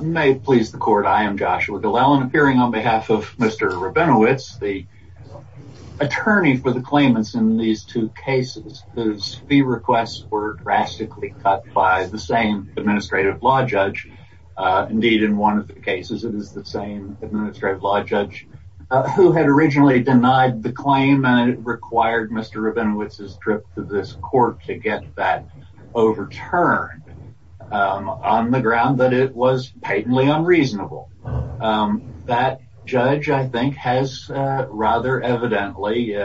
May it please the court, I am Joshua Glellen appearing on behalf of Mr. Rabinowitz, the attorney for the claimants in these two cases whose fee requests were drastically cut by the same administrative law judge, indeed in one of the cases it is the same administrative law judge who had originally denied the claim and it required Mr. Rabinowitz's trip to this court to get that overturned on the ground that it was patently unreasonable. That judge I think has rather evidently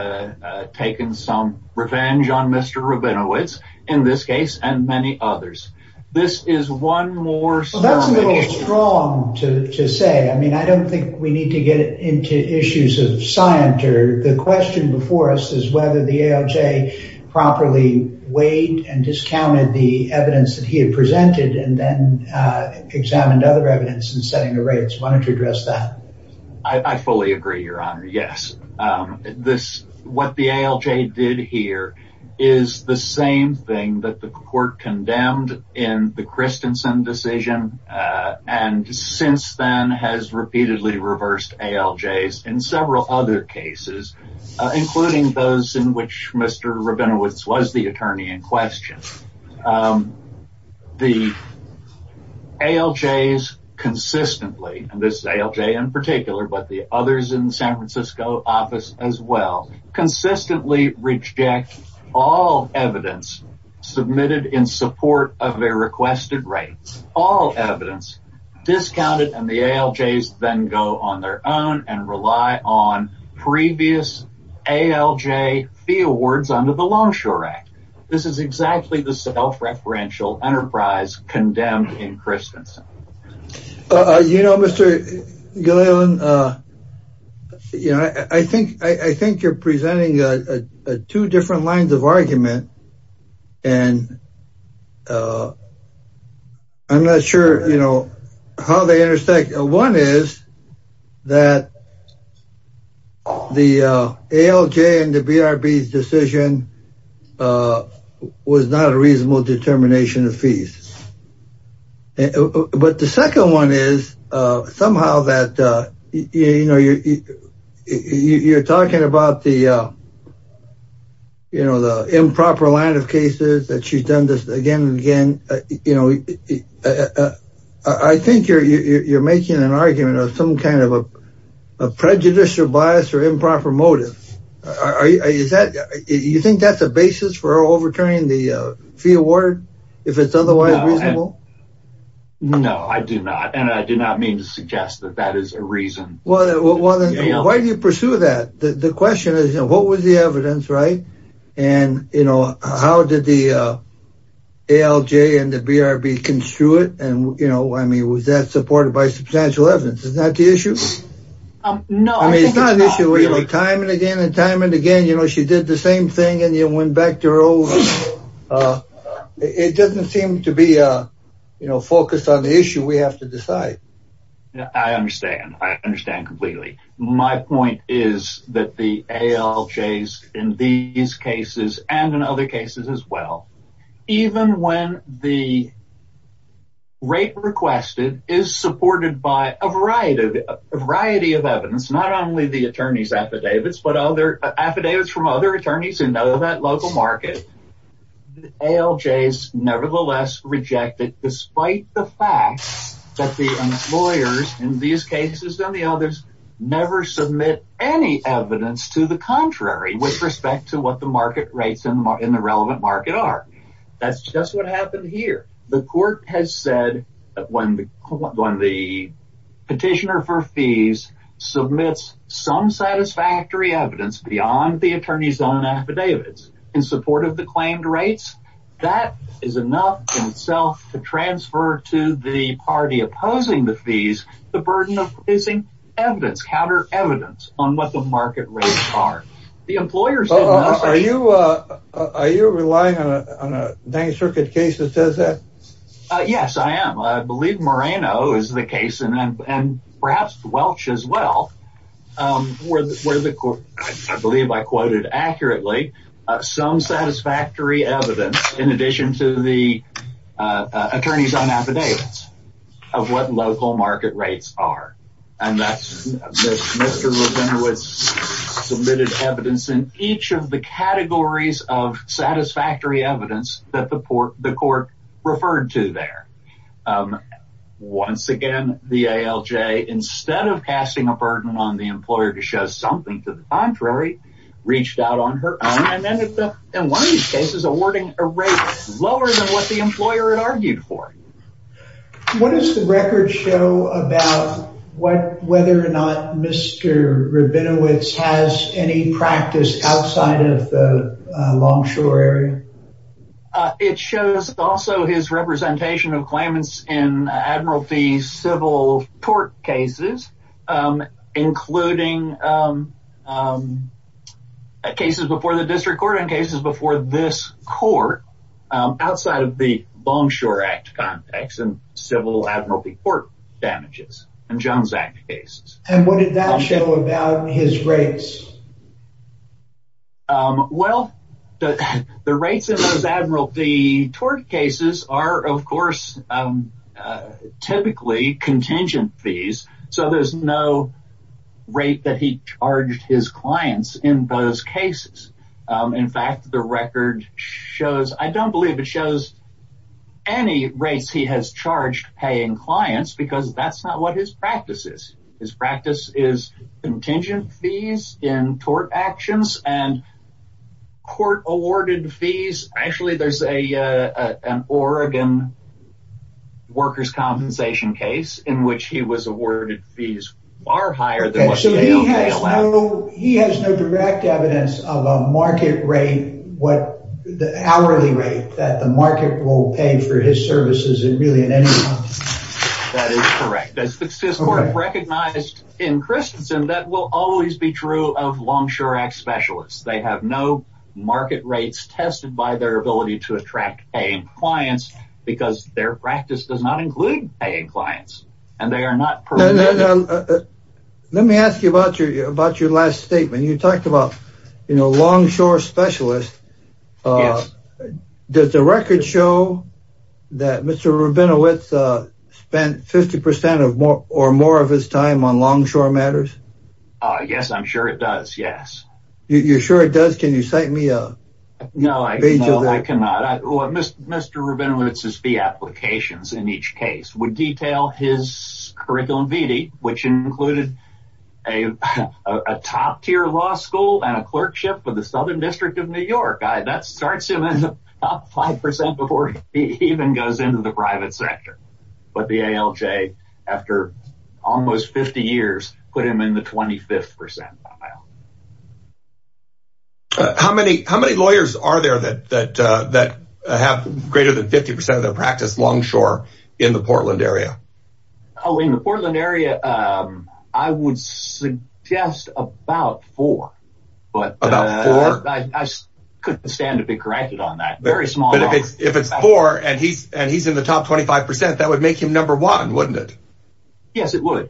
taken some revenge on Mr. Rabinowitz in this case and many others. This is one more... That's a little strong to say, I mean I don't think we need to get into issues of properly weighed and discounted the evidence that he had presented and then examined other evidence in setting the rates. Why don't you address that? I fully agree your honor, yes. What the ALJ did here is the same thing that the court condemned in the Christensen decision and since then has reversed ALJs in several other cases including those in which Mr. Rabinowitz was the attorney in question. The ALJs consistently and this ALJ in particular but the others in the San Francisco office as well consistently reject all evidence submitted in support of a requested rate. All evidence discounted and the ALJs then go on their own and rely on previous ALJ fee awards under the Longshore Act. This is exactly the self-referential enterprise condemned in Christensen. You know Mr. Gilleland, I think you're presenting two different lines of argument and I'm not sure you know how they intersect. One is that the ALJ and the BRB's decision was not a reasonable determination of fees. But the second one is somehow that you know you're talking about the improper line of cases that she's done this again and again. I think you're making an argument of some kind of a prejudicial bias or improper motive. You think that's a basis for overturning the fee award if it's otherwise reasonable? No, I do not and I do not mean to suggest that that is a reason. Well, then why do you pursue that? The question is what was the evidence, right? And you know how did the ALJ and the BRB construe it and you know I mean was that supported by substantial evidence? Is that the issue? No, I mean it's not an issue where you know time and again and time and again you know she did the same thing and you went back to her old. It doesn't seem to be you know focused on the issue we have to decide. I understand, I understand completely. My point is that the ALJs in these cases and in other cases as well, even when the rate requested is supported by a variety of evidence, not only the attorney's affidavits but other affidavits from other attorneys who know that local market. ALJs reject it despite the fact that the employers in these cases and the others never submit any evidence to the contrary with respect to what the market rates in the relevant market are. That's just what happened here. The court has said that when the petitioner for fees submits some satisfactory evidence beyond the attorney's own affidavits in support of the claimed rates, that is enough in itself to transfer to the party opposing the fees the burden of facing evidence, counter evidence on what the market rates are. Are you relying on a Danger Circuit case that says that? Yes, I am. I believe Moreno is the case and perhaps Welch as well, where the court, I believe I quoted accurately, some satisfactory evidence in addition to the attorney's own affidavits of what local market rates are. And Mr. Rabinowitz submitted evidence in each of the categories of satisfactory evidence that the court referred to there. Um, once again, the ALJ, instead of casting a burden on the employer to show something to the contrary, reached out on her own and ended up in one of these cases awarding a rate lower than what the employer had argued for. What does the record show about what whether or not Mr. Rabinowitz has any practice outside of the Longshore area? It shows also his representation of claimants in Admiralty civil tort cases, including cases before the district court and cases before this court, outside of the Longshore Act context and civil Admiralty court damages and Jones Act cases. And what did that show about his rates? Um, well, the rates in those Admiralty tort cases are, of course, typically contingent fees. So there's no rate that he charged his clients in those cases. In fact, the record shows I don't believe it shows any rates he has charged paying clients because that's not what his practice is. Practice is contingent fees in tort actions and court awarded fees. Actually, there's a, an Oregon workers' compensation case in which he was awarded fees far higher. He has no direct evidence of a market rate, what the hourly rate that the market will pay for his services. That is correct. That's recognized in Christensen. That will always be true of Longshore Act specialists. They have no market rates tested by their ability to attract paying clients because their practice does not include paying clients and they are not permitted. Let me ask you about your about your last statement. You talked about, you know, Longshore specialist. Does the record show that Mr. Rabinowitz spent 50% or more of his time on Longshore matters? Yes, I'm sure it does. Yes. You're sure it does? Can you cite me? No, I cannot. Mr. Rabinowitz's fee applications in each case would detail his curriculum VD, which included a top tier law school and a clerkship for the Southern District of New York. That starts him in the top 5% before he even goes into the private sector. But the ALJ, after almost 50 years, put him in the 25th percentile. How many how many lawyers are there that that that have greater than 50% of their practice Longshore in the Portland area? Oh, in the Portland area, I would suggest about four. But I couldn't stand to be corrected on that. Very small. If it's four and he's and he's in the top 25 percent, that would make him number one, wouldn't it? Yes, it would.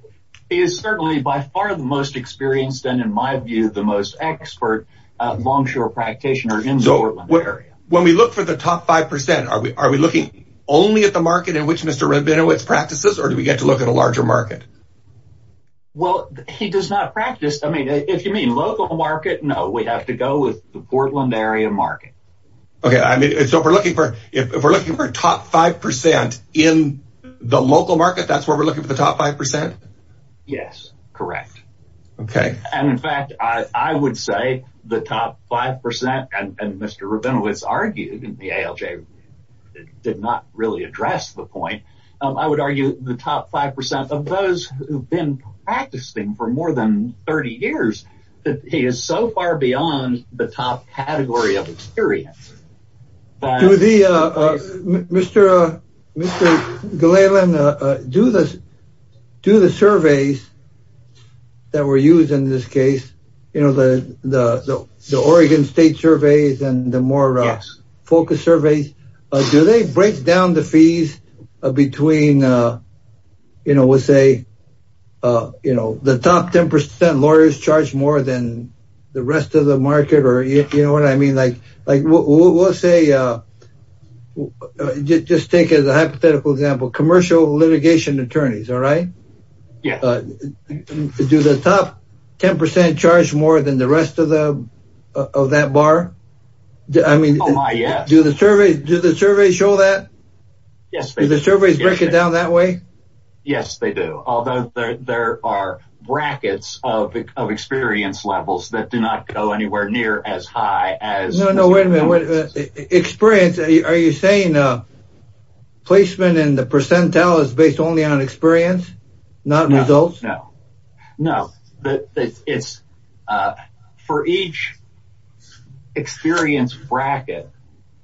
He is certainly by far the most experienced and in my view, the most expert Longshore practitioner in the area. When we look for the top 5%, are we are we looking only at the market in which Mr. Rabinowitz practices or do we get to look at a larger market? Well, he does not practice. I mean, if you mean local market, no, we have to go with the Portland area market. OK, I mean, so we're looking for if we're looking for top 5% in the local market, that's where we're looking for the top 5%. Yes, correct. OK. And in fact, I would say the top 5% and Mr. Rabinowitz argued in the ALJ did not really address the point. I would argue the top 5% of those who've been practicing for more than 30 years, that he is so far beyond the top category of experience. Mr. Mr. Ghalelan, do the do the surveys that were used in this case, you know, the the the Oregon State surveys and the more focus surveys, do they break down the fees between, you know, we'll say, you know, the top 10% lawyers charge more than the rest of the market or if you know what I mean, like, like, we'll say, just take as a hypothetical example, commercial litigation attorneys. All right. Yeah. Do the top 10% charge more than the rest of the of that bar? I mean, do the surveys, do the surveys show that? Yes, the surveys break it down that way. Yes, they do. Although there are brackets of experience levels that do not go anywhere near as high as no, no, wait a minute. Experience. Are you saying placement in the percentile is based only on experience, not results? No, no, it's for each experience bracket,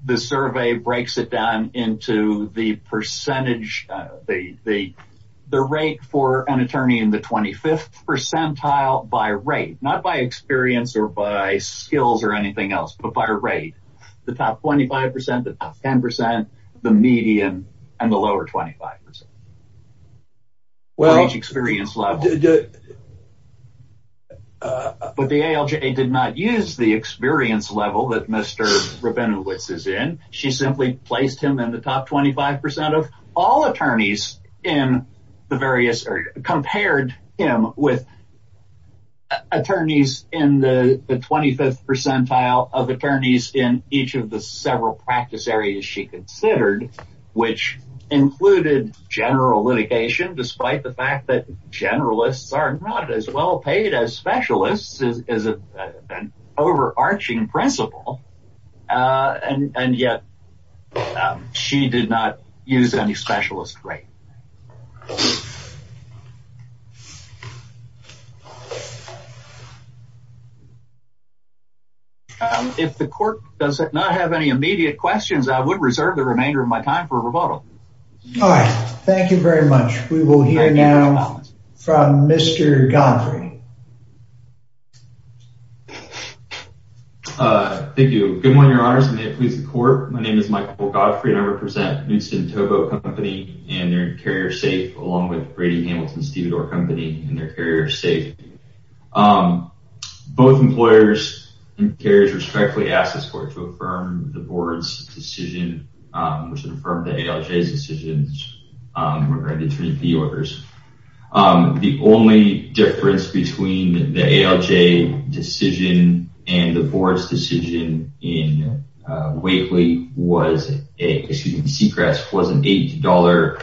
the survey breaks it down into the percentage, the rate for an attorney in the 25th percentile by rate, not by experience or by skills or anything else, but by rate, the top 25%, the top 10%, the median and the lower 25%. Well, each experience level. But the ALJ did not use the experience level that Mr. Rabinowitz is in. She simply placed him in the top 25% of all attorneys in the various compared him with attorneys in the 25th percentile of attorneys in each of the several practice areas she considered, which included general litigation, despite the fact that generalists are not as well paid as specialists is an overarching principle, and yet she did not use any specialist rate. If the court does not have any immediate questions, I would reserve the remainder of my time for rebuttal. All right, thank you very much. We will hear now from Mr. Godfrey. Thank you. Good morning, your honors, and may it please the court. My name is Michael Godfrey, and I represent Moonstone Towboat Company and their Carrier Safe, along with Brady Hamilton Stevedore Company and their Carrier Safe. Both employers and carriers respectfully ask this court to affirm the board's decision, which would affirm the ALJ's decisions regarding the attorney fee in Wheatley was an $80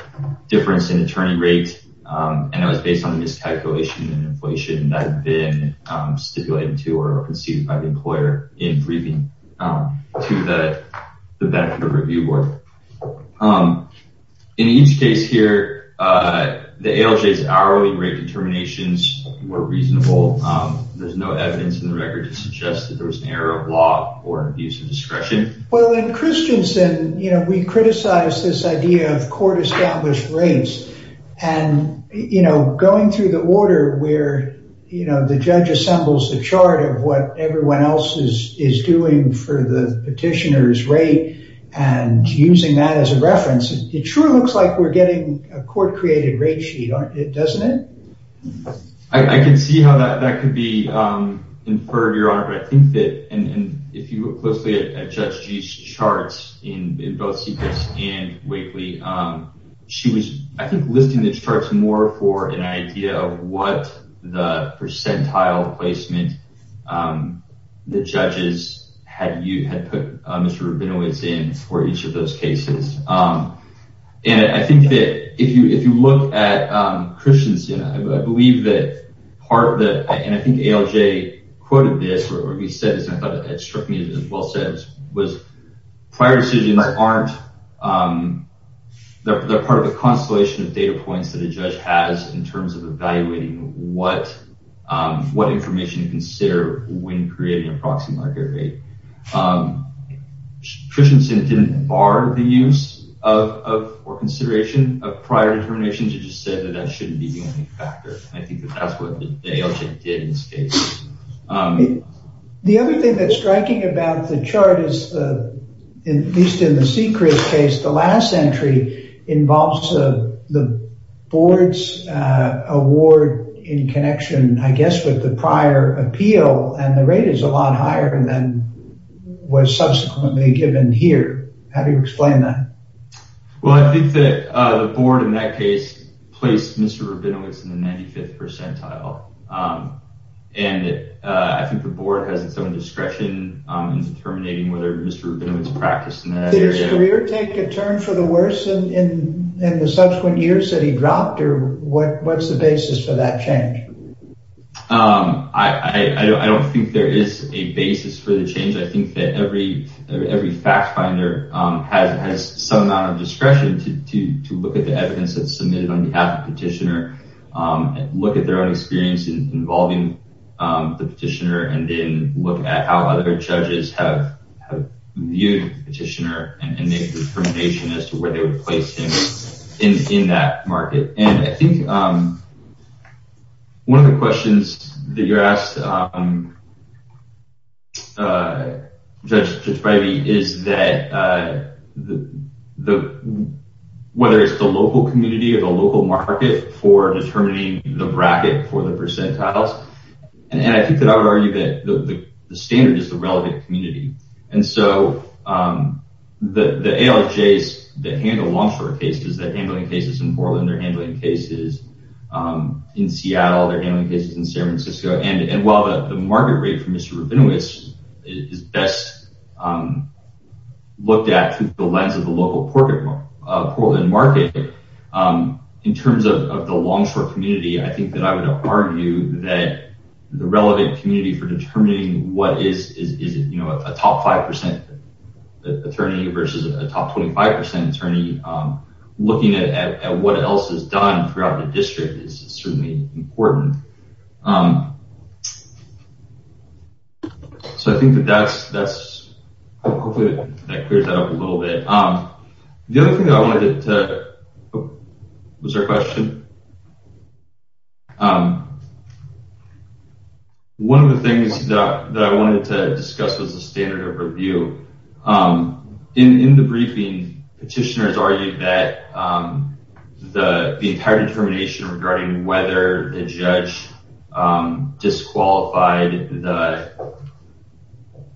difference in attorney rate, and it was based on a miscalculation in inflation that had been stipulated to or conceded by the employer in briefing to the benefit review board. In each case here, the ALJ's hourly rate determinations were reasonable. There's no evidence in the record to suggest that there was an error of law or abuse of discretion. Well, in Christianson, you know, we criticize this idea of court-established rates, and, you know, going through the order where, you know, the judge assembles the chart of what everyone else is doing for the petitioner's rate and using that as a reference, it sure looks like we're getting a court-created rate sheet, doesn't it? I can see how that could be inferred, Your Honor, but I think that, and if you look closely at Judge G's charts in both Seacrest and Wheatley, she was, I think, listing the charts more for an idea of what the percentile placement the judges had put Mr. Rabinowitz in for each of the cases. And I think ALJ quoted this, or at least said this, and I thought it struck me as well said, was prior decisions aren't, they're part of the constellation of data points that a judge has in terms of evaluating what information to consider when creating a proxy market rate. Christianson didn't bar the use of, or consideration of prior determinations, it just said that that shouldn't be the only factor. I think that that's what the ALJ did in this case. The other thing that's striking about the chart is, at least in the Seacrest case, the last entry involves the board's award in connection, I guess, with the prior appeal, and the rate is a lot higher than was subsequently given here. How do you explain that? Well, I think that the board in that case placed Mr. Rabinowitz in the 95th percentile, and I think the board has its own discretion in determining whether Mr. Rabinowitz practiced in that area. Did his career take a turn for the worse in the subsequent years that he dropped, or what's the basis for that change? I don't think there is a basis for the change. I think that every fact finder has some amount of discretion to look at the evidence that's submitted on behalf of the petitioner, look at their own experience involving the petitioner, and then look at how other judges have viewed the petitioner and made the determination as to where they would place him in that market. I think one of the questions that you asked Judge Breivy is whether it's the local community or the local market for determining the bracket for the percentiles, and I think that I would argue that the standard is the relevant community, and so the ALJs that handle long-short cases, they're handling cases in Portland, they're handling cases in Seattle, they're handling cases in San Francisco, and while there are the market rate for Mr. Rabinowitz is best looked at through the lens of the local Portland market, in terms of the long-short community, I think that I would argue that the relevant community for determining what is a top 5% attorney versus a top 25% attorney, looking at what else is done throughout the district is certainly important. So I think that that's hopefully that clears that up a little bit. The other thing I wanted to, was there a question? One of the things that I wanted to discuss was the standard of review. In the briefing, petitioners argued that the entire determination regarding whether the judge disqualified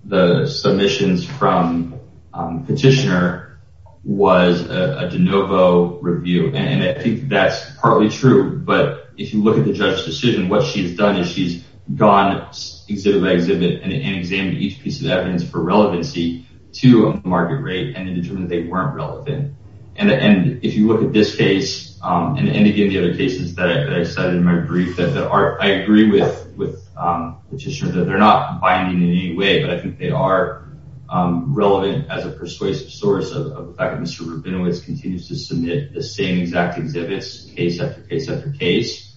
the submissions from petitioner was a de novo review, and I think that's partly true, but if you look at the judge's decision, what she's done is she's gone exhibit and examined each piece of evidence for relevancy to a market rate and determined that they weren't relevant, and if you look at this case, and again the other cases that I cited in my brief, I agree with the petitioner that they're not binding in any way, but I think they are relevant as a persuasive source of Mr. Rabinowitz continues to submit the same exact exhibits, case after case after case,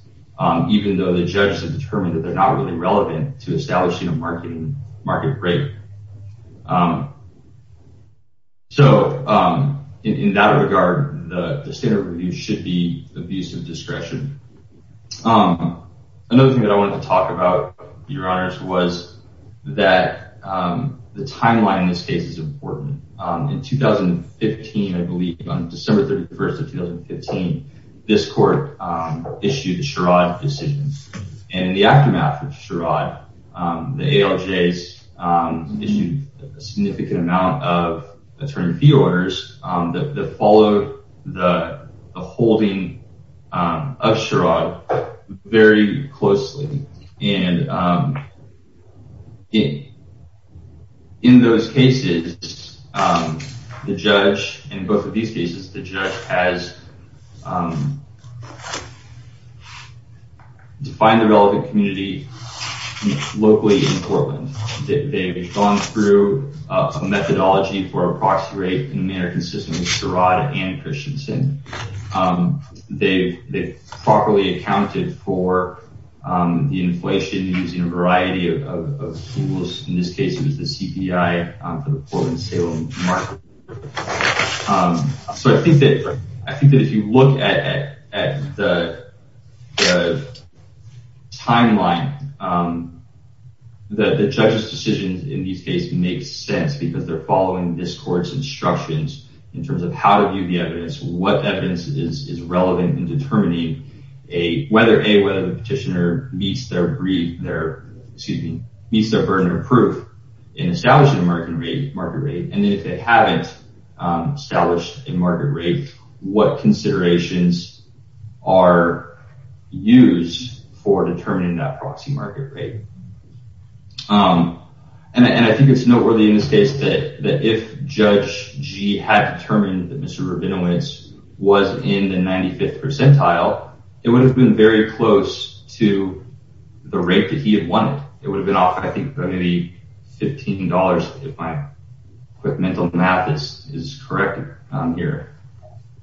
even though the judges have determined that they're not really relevant to establishing a market rate. So in that regard, the standard of review should be abuse of discretion. Another thing that I wanted to talk about, your honors, was that the timeline in this case is important. In 2015, I believe, on December 31st of 2015, this court issued the Sherrod decision, and in the aftermath of Sherrod, the ALJs issued a significant amount of attorney fee orders that followed the holding of Sherrod very closely, and in those cases, the judge, in both of these cases, the judge has defined the relevant community locally in Portland. They've gone through a methodology for a proxy rate in a manner consistent with Sherrod and Christensen. They properly accounted for the inflation using a variety of tools. In this case, it was the CPI for the Portland-Salem market. So I think that if you look at the timeline, the judge's decision in these cases makes sense because they're following this court's instructions in terms of how to view the evidence, what evidence is relevant in determining whether a petitioner meets their burden of proof in establishing a market rate, and if they haven't established a market rate, what considerations are used for determining that proxy market rate. And I think it's noteworthy in this case that if Judge Gee had determined that Mr. Rabinowitz was in the 95th percentile, it would have been very close to the rate that he had wanted. It would have been off, I think, maybe $15, if my quick mental math is correct here.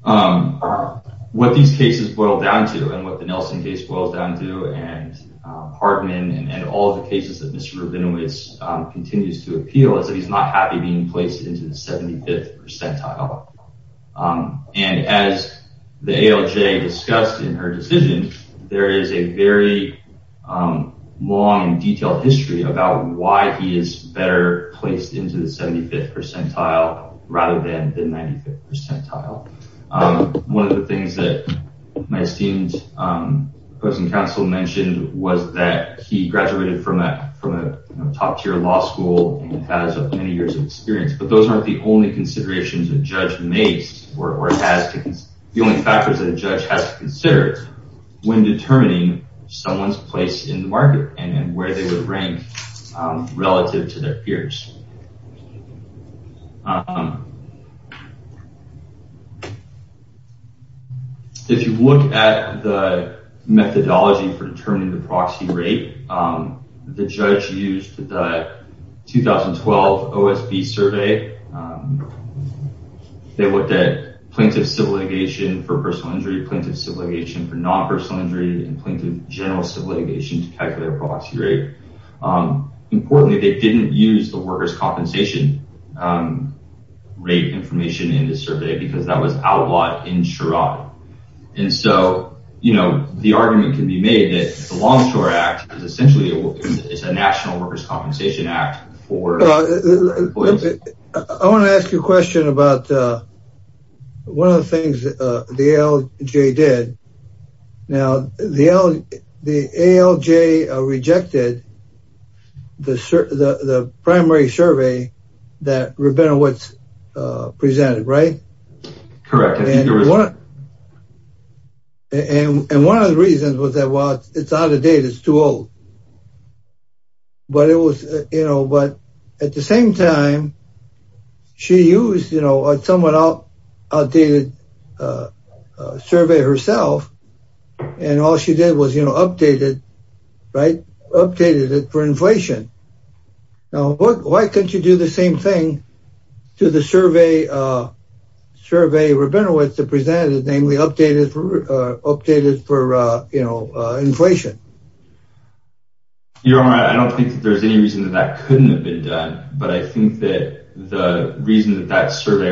What these cases boil down to, and what the Nelson case boils down to, and Hartman and all the cases that Mr. Rabinowitz continues to appeal is that he's not happy being placed into the 75th and as the ALJ discussed in her decision, there is a very long and detailed history about why he is better placed into the 75th percentile rather than the 95th percentile. One of the things that my esteemed opposing counsel mentioned was that he graduated from a top-tier law school and has many years of experience, but those aren't the only considerations a judge makes or the only factors that a judge has to consider when determining someone's place in the market and where they would rank relative to their peers. If you look at the methodology for the 2012 OSB survey, they looked at plaintiff civil litigation for personal injury, plaintiff civil litigation for non-personal injury, and plaintiff general civil litigation to calculate a proxy rate. Importantly, they didn't use the workers' compensation rate information in the survey because that was outlawed in Sherrod. The argument can be made that the Longshore Act is a national workers' compensation act for employees. I want to ask you a question about one of the things the ALJ did. Now the ALJ rejected the primary survey that Rabinowitz presented, right? Correct. And one of the reasons was that while it's out of date, it's too old. But it was, you know, but at the same time, she used, you know, a somewhat outdated survey herself and all she did was, you know, update it, right? Updated it for inflation. Now, why couldn't you do the same thing to the survey Rabinowitz that presented, updated it for, you know, inflation? Your Honor, I don't think that there's any reason that that couldn't have been done, but I think that the reason that that survey,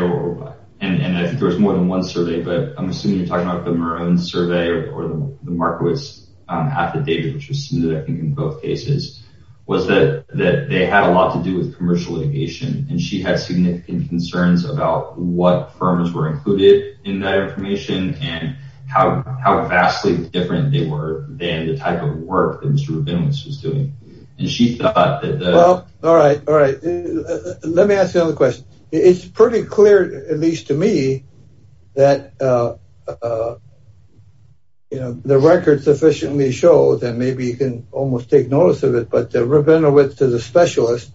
and I think there was more than one survey, but I'm assuming you're talking about the Maroon survey or the Markowitz affidavit, which was in both cases, was that they had a lot to do with commercial litigation, and she had significant concerns about what firms were included in that information and how vastly different they were than the type of work that Mr. Rabinowitz was doing. And she thought that the... Well, all right, all right. Let me ask you another question. It's pretty clear, at least to me, that, you know, the records sufficiently show that maybe you can almost take notice of it, but that Rabinowitz is a specialist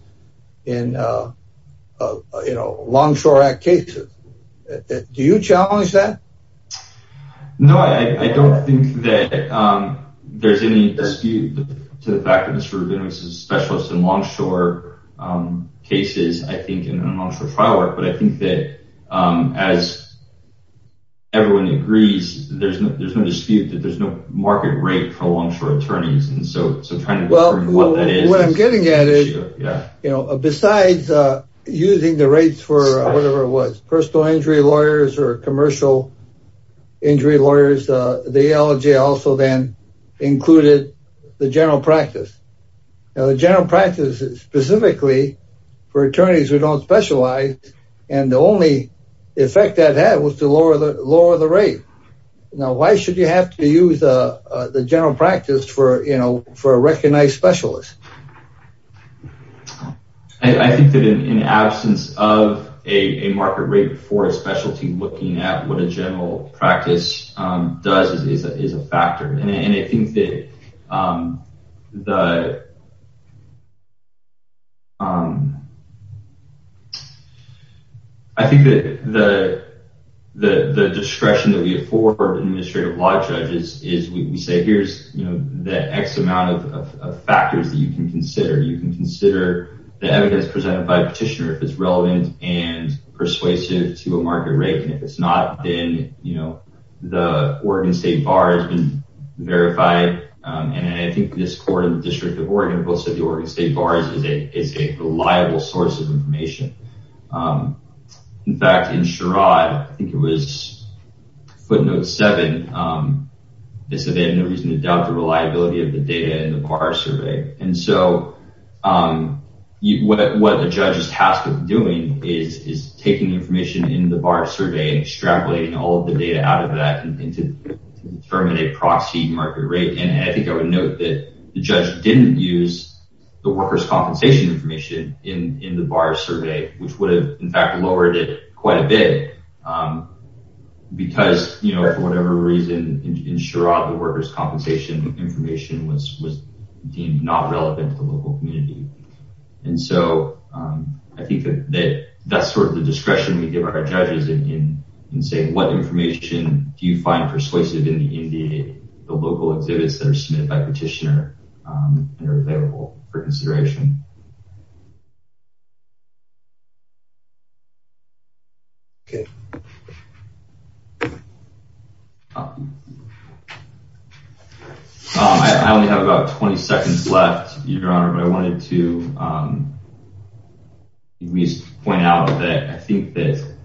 in, you know, Longshore Act cases. Do you challenge that? No, I don't think that there's any dispute to the fact that Mr. Rabinowitz is a specialist in Longshore cases, I think, and in Longshore trial work, but I think that as everyone agrees, there's no dispute that there's no market rate for Longshore attorneys. And so, well, what I'm getting at is, you know, besides using the rates for whatever it was, personal injury lawyers or commercial injury lawyers, the ALJ also then included the general practice. Now, the general practice is specifically for attorneys who don't specialize, and the only effect that had was to lower the rate. Now, why should you have to use the general practice for, you know, for a recognized specialist? I think that in absence of a market rate for a specialty looking at what a general practice does is a factor, and I think that the discretion that we afford administrative law judges is we say, here's, you know, the X amount of factors that you can consider. You can consider the evidence presented by petitioner if it's relevant and persuasive to a market rate, and if it's not, then, you know, the Oregon State Bar has been verified, and I think this court in the District of Oregon both said the Oregon State Bar is a reliable source of information. In fact, in Sherrod, I think it was footnote seven, they said they had no reason to doubt the reliability of the data in the Bar survey, and so what the judge's task of doing is taking information in the Bar survey and extrapolating all of the data out of that and to determine a proxy market rate, and I think I would note that the judge didn't use the workers' compensation information in the Bar survey, which would have, in fact, lowered it quite a bit because, you know, for whatever reason, in Sherrod, the workers' compensation information was deemed not relevant to the local community, and so I think that that's sort of the discretion we give our judges in saying what information do you find persuasive in the local exhibits that are submitted by petitioner and are available for consideration. Okay. I only have about 20 seconds left, Your Honor, but I wanted to point out that I think that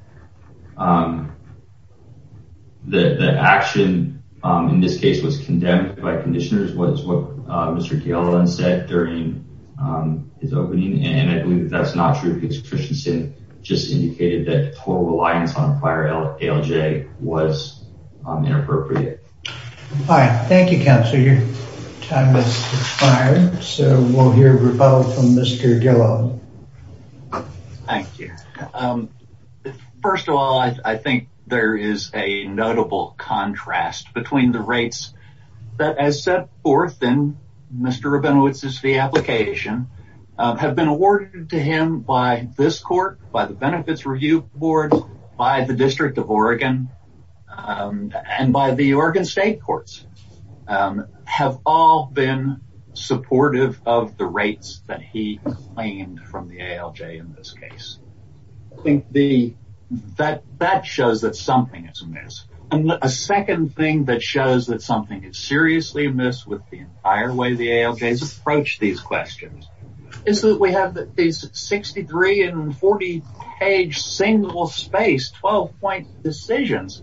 the action in this case was condemned by petitioners was what Mr. Gillelan said during his opening, and I believe that that's not true because Christensen just indicated that total reliance on prior ALJ was inappropriate. All right. Thank you, Counselor. Your time has expired, so we'll hear a rebuttal from Mr. Gillelan. Thank you. First of all, I think there is a notable contrast between the rates that, as set forth in Mr. Rabinowitz's fee application, have been awarded to him by this court, by the Benefits Review Board, by the District of Oregon, and by the Oregon State Courts have all been supportive of the rates that he claimed from the ALJ in this case. I think that shows that something is amiss, and a second thing that shows that something is seriously amiss with the entire way the ALJs approach these questions is that we have these 63 and 40-page single-space, 12-point decisions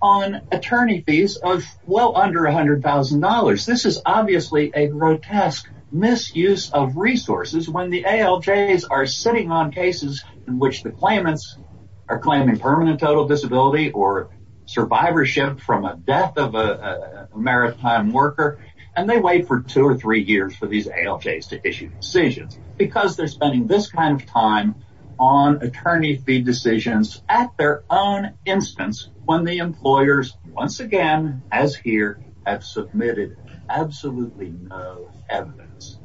on attorney fees of well under $100,000. This is obviously a grotesque misuse of resources when the ALJs are sitting on cases in which the claimants are claiming permanent total disability or survivorship from a death of a maritime worker, and they wait for two or three years for these ALJs to issue decisions. Because they're spending this kind of time on attorney fee decisions at their own instance when the employers, once again, as here, have submitted absolutely no evidence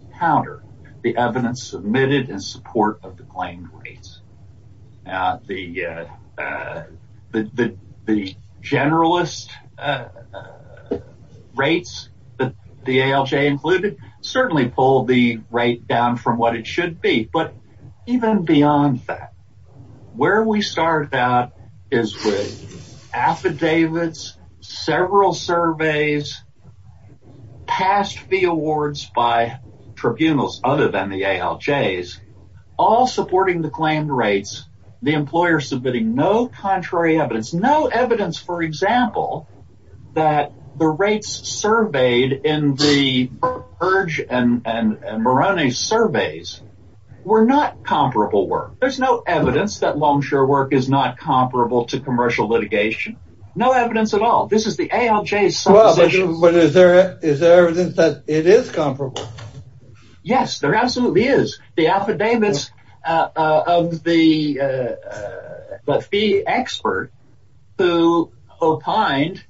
to counter the evidence submitted in support of the claimed rates. Now, the generalist rates that the ALJ included certainly pull the rate down from what it should be, but even beyond that, where we start out is with affidavits, several surveys, past fee awards by tribunals other than the ALJs, all supporting the claimed rates, the employer submitting no contrary evidence, no evidence, for example, that the rates surveyed in the Burge and Moroney surveys were not comparable work. There's no evidence that longshore work is not comparable to commercial litigation. No evidence at all. This is the ALJs' submission. But is there evidence that it is comparable? Yes, there absolutely is. The affidavits of the expert who opined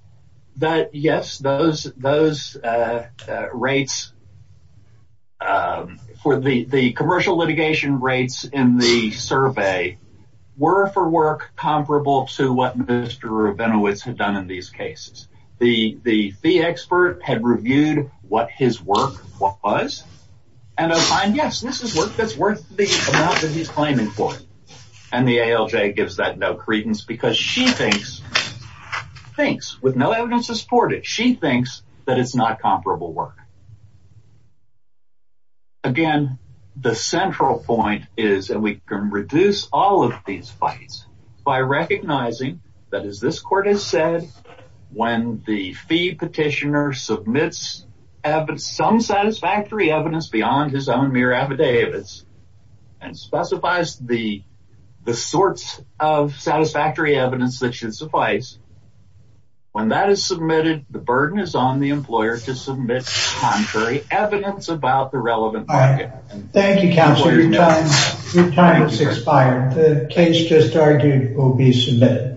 that, yes, those rates for the commercial litigation rates in the survey were for work comparable to what Mr. Rabinowitz had done in these cases. The fee expert had reviewed what his work was and opined, yes, this is work that's worth the amount that he's claiming for. And the ALJ gives that no credence because she thinks, with no evidence to support it, she thinks that it's not comparable work. Again, the central point is, and we can reduce all of these fights by recognizing that, as this court has said, when the fee petitioner submits some satisfactory evidence beyond his own mere affidavits and specifies the sorts of satisfactory evidence that should suffice, when that is submitted, the burden is on the employer to submit contrary evidence about the relevant market. Thank you, counsel. Your time has expired. The case just argued will be submitted.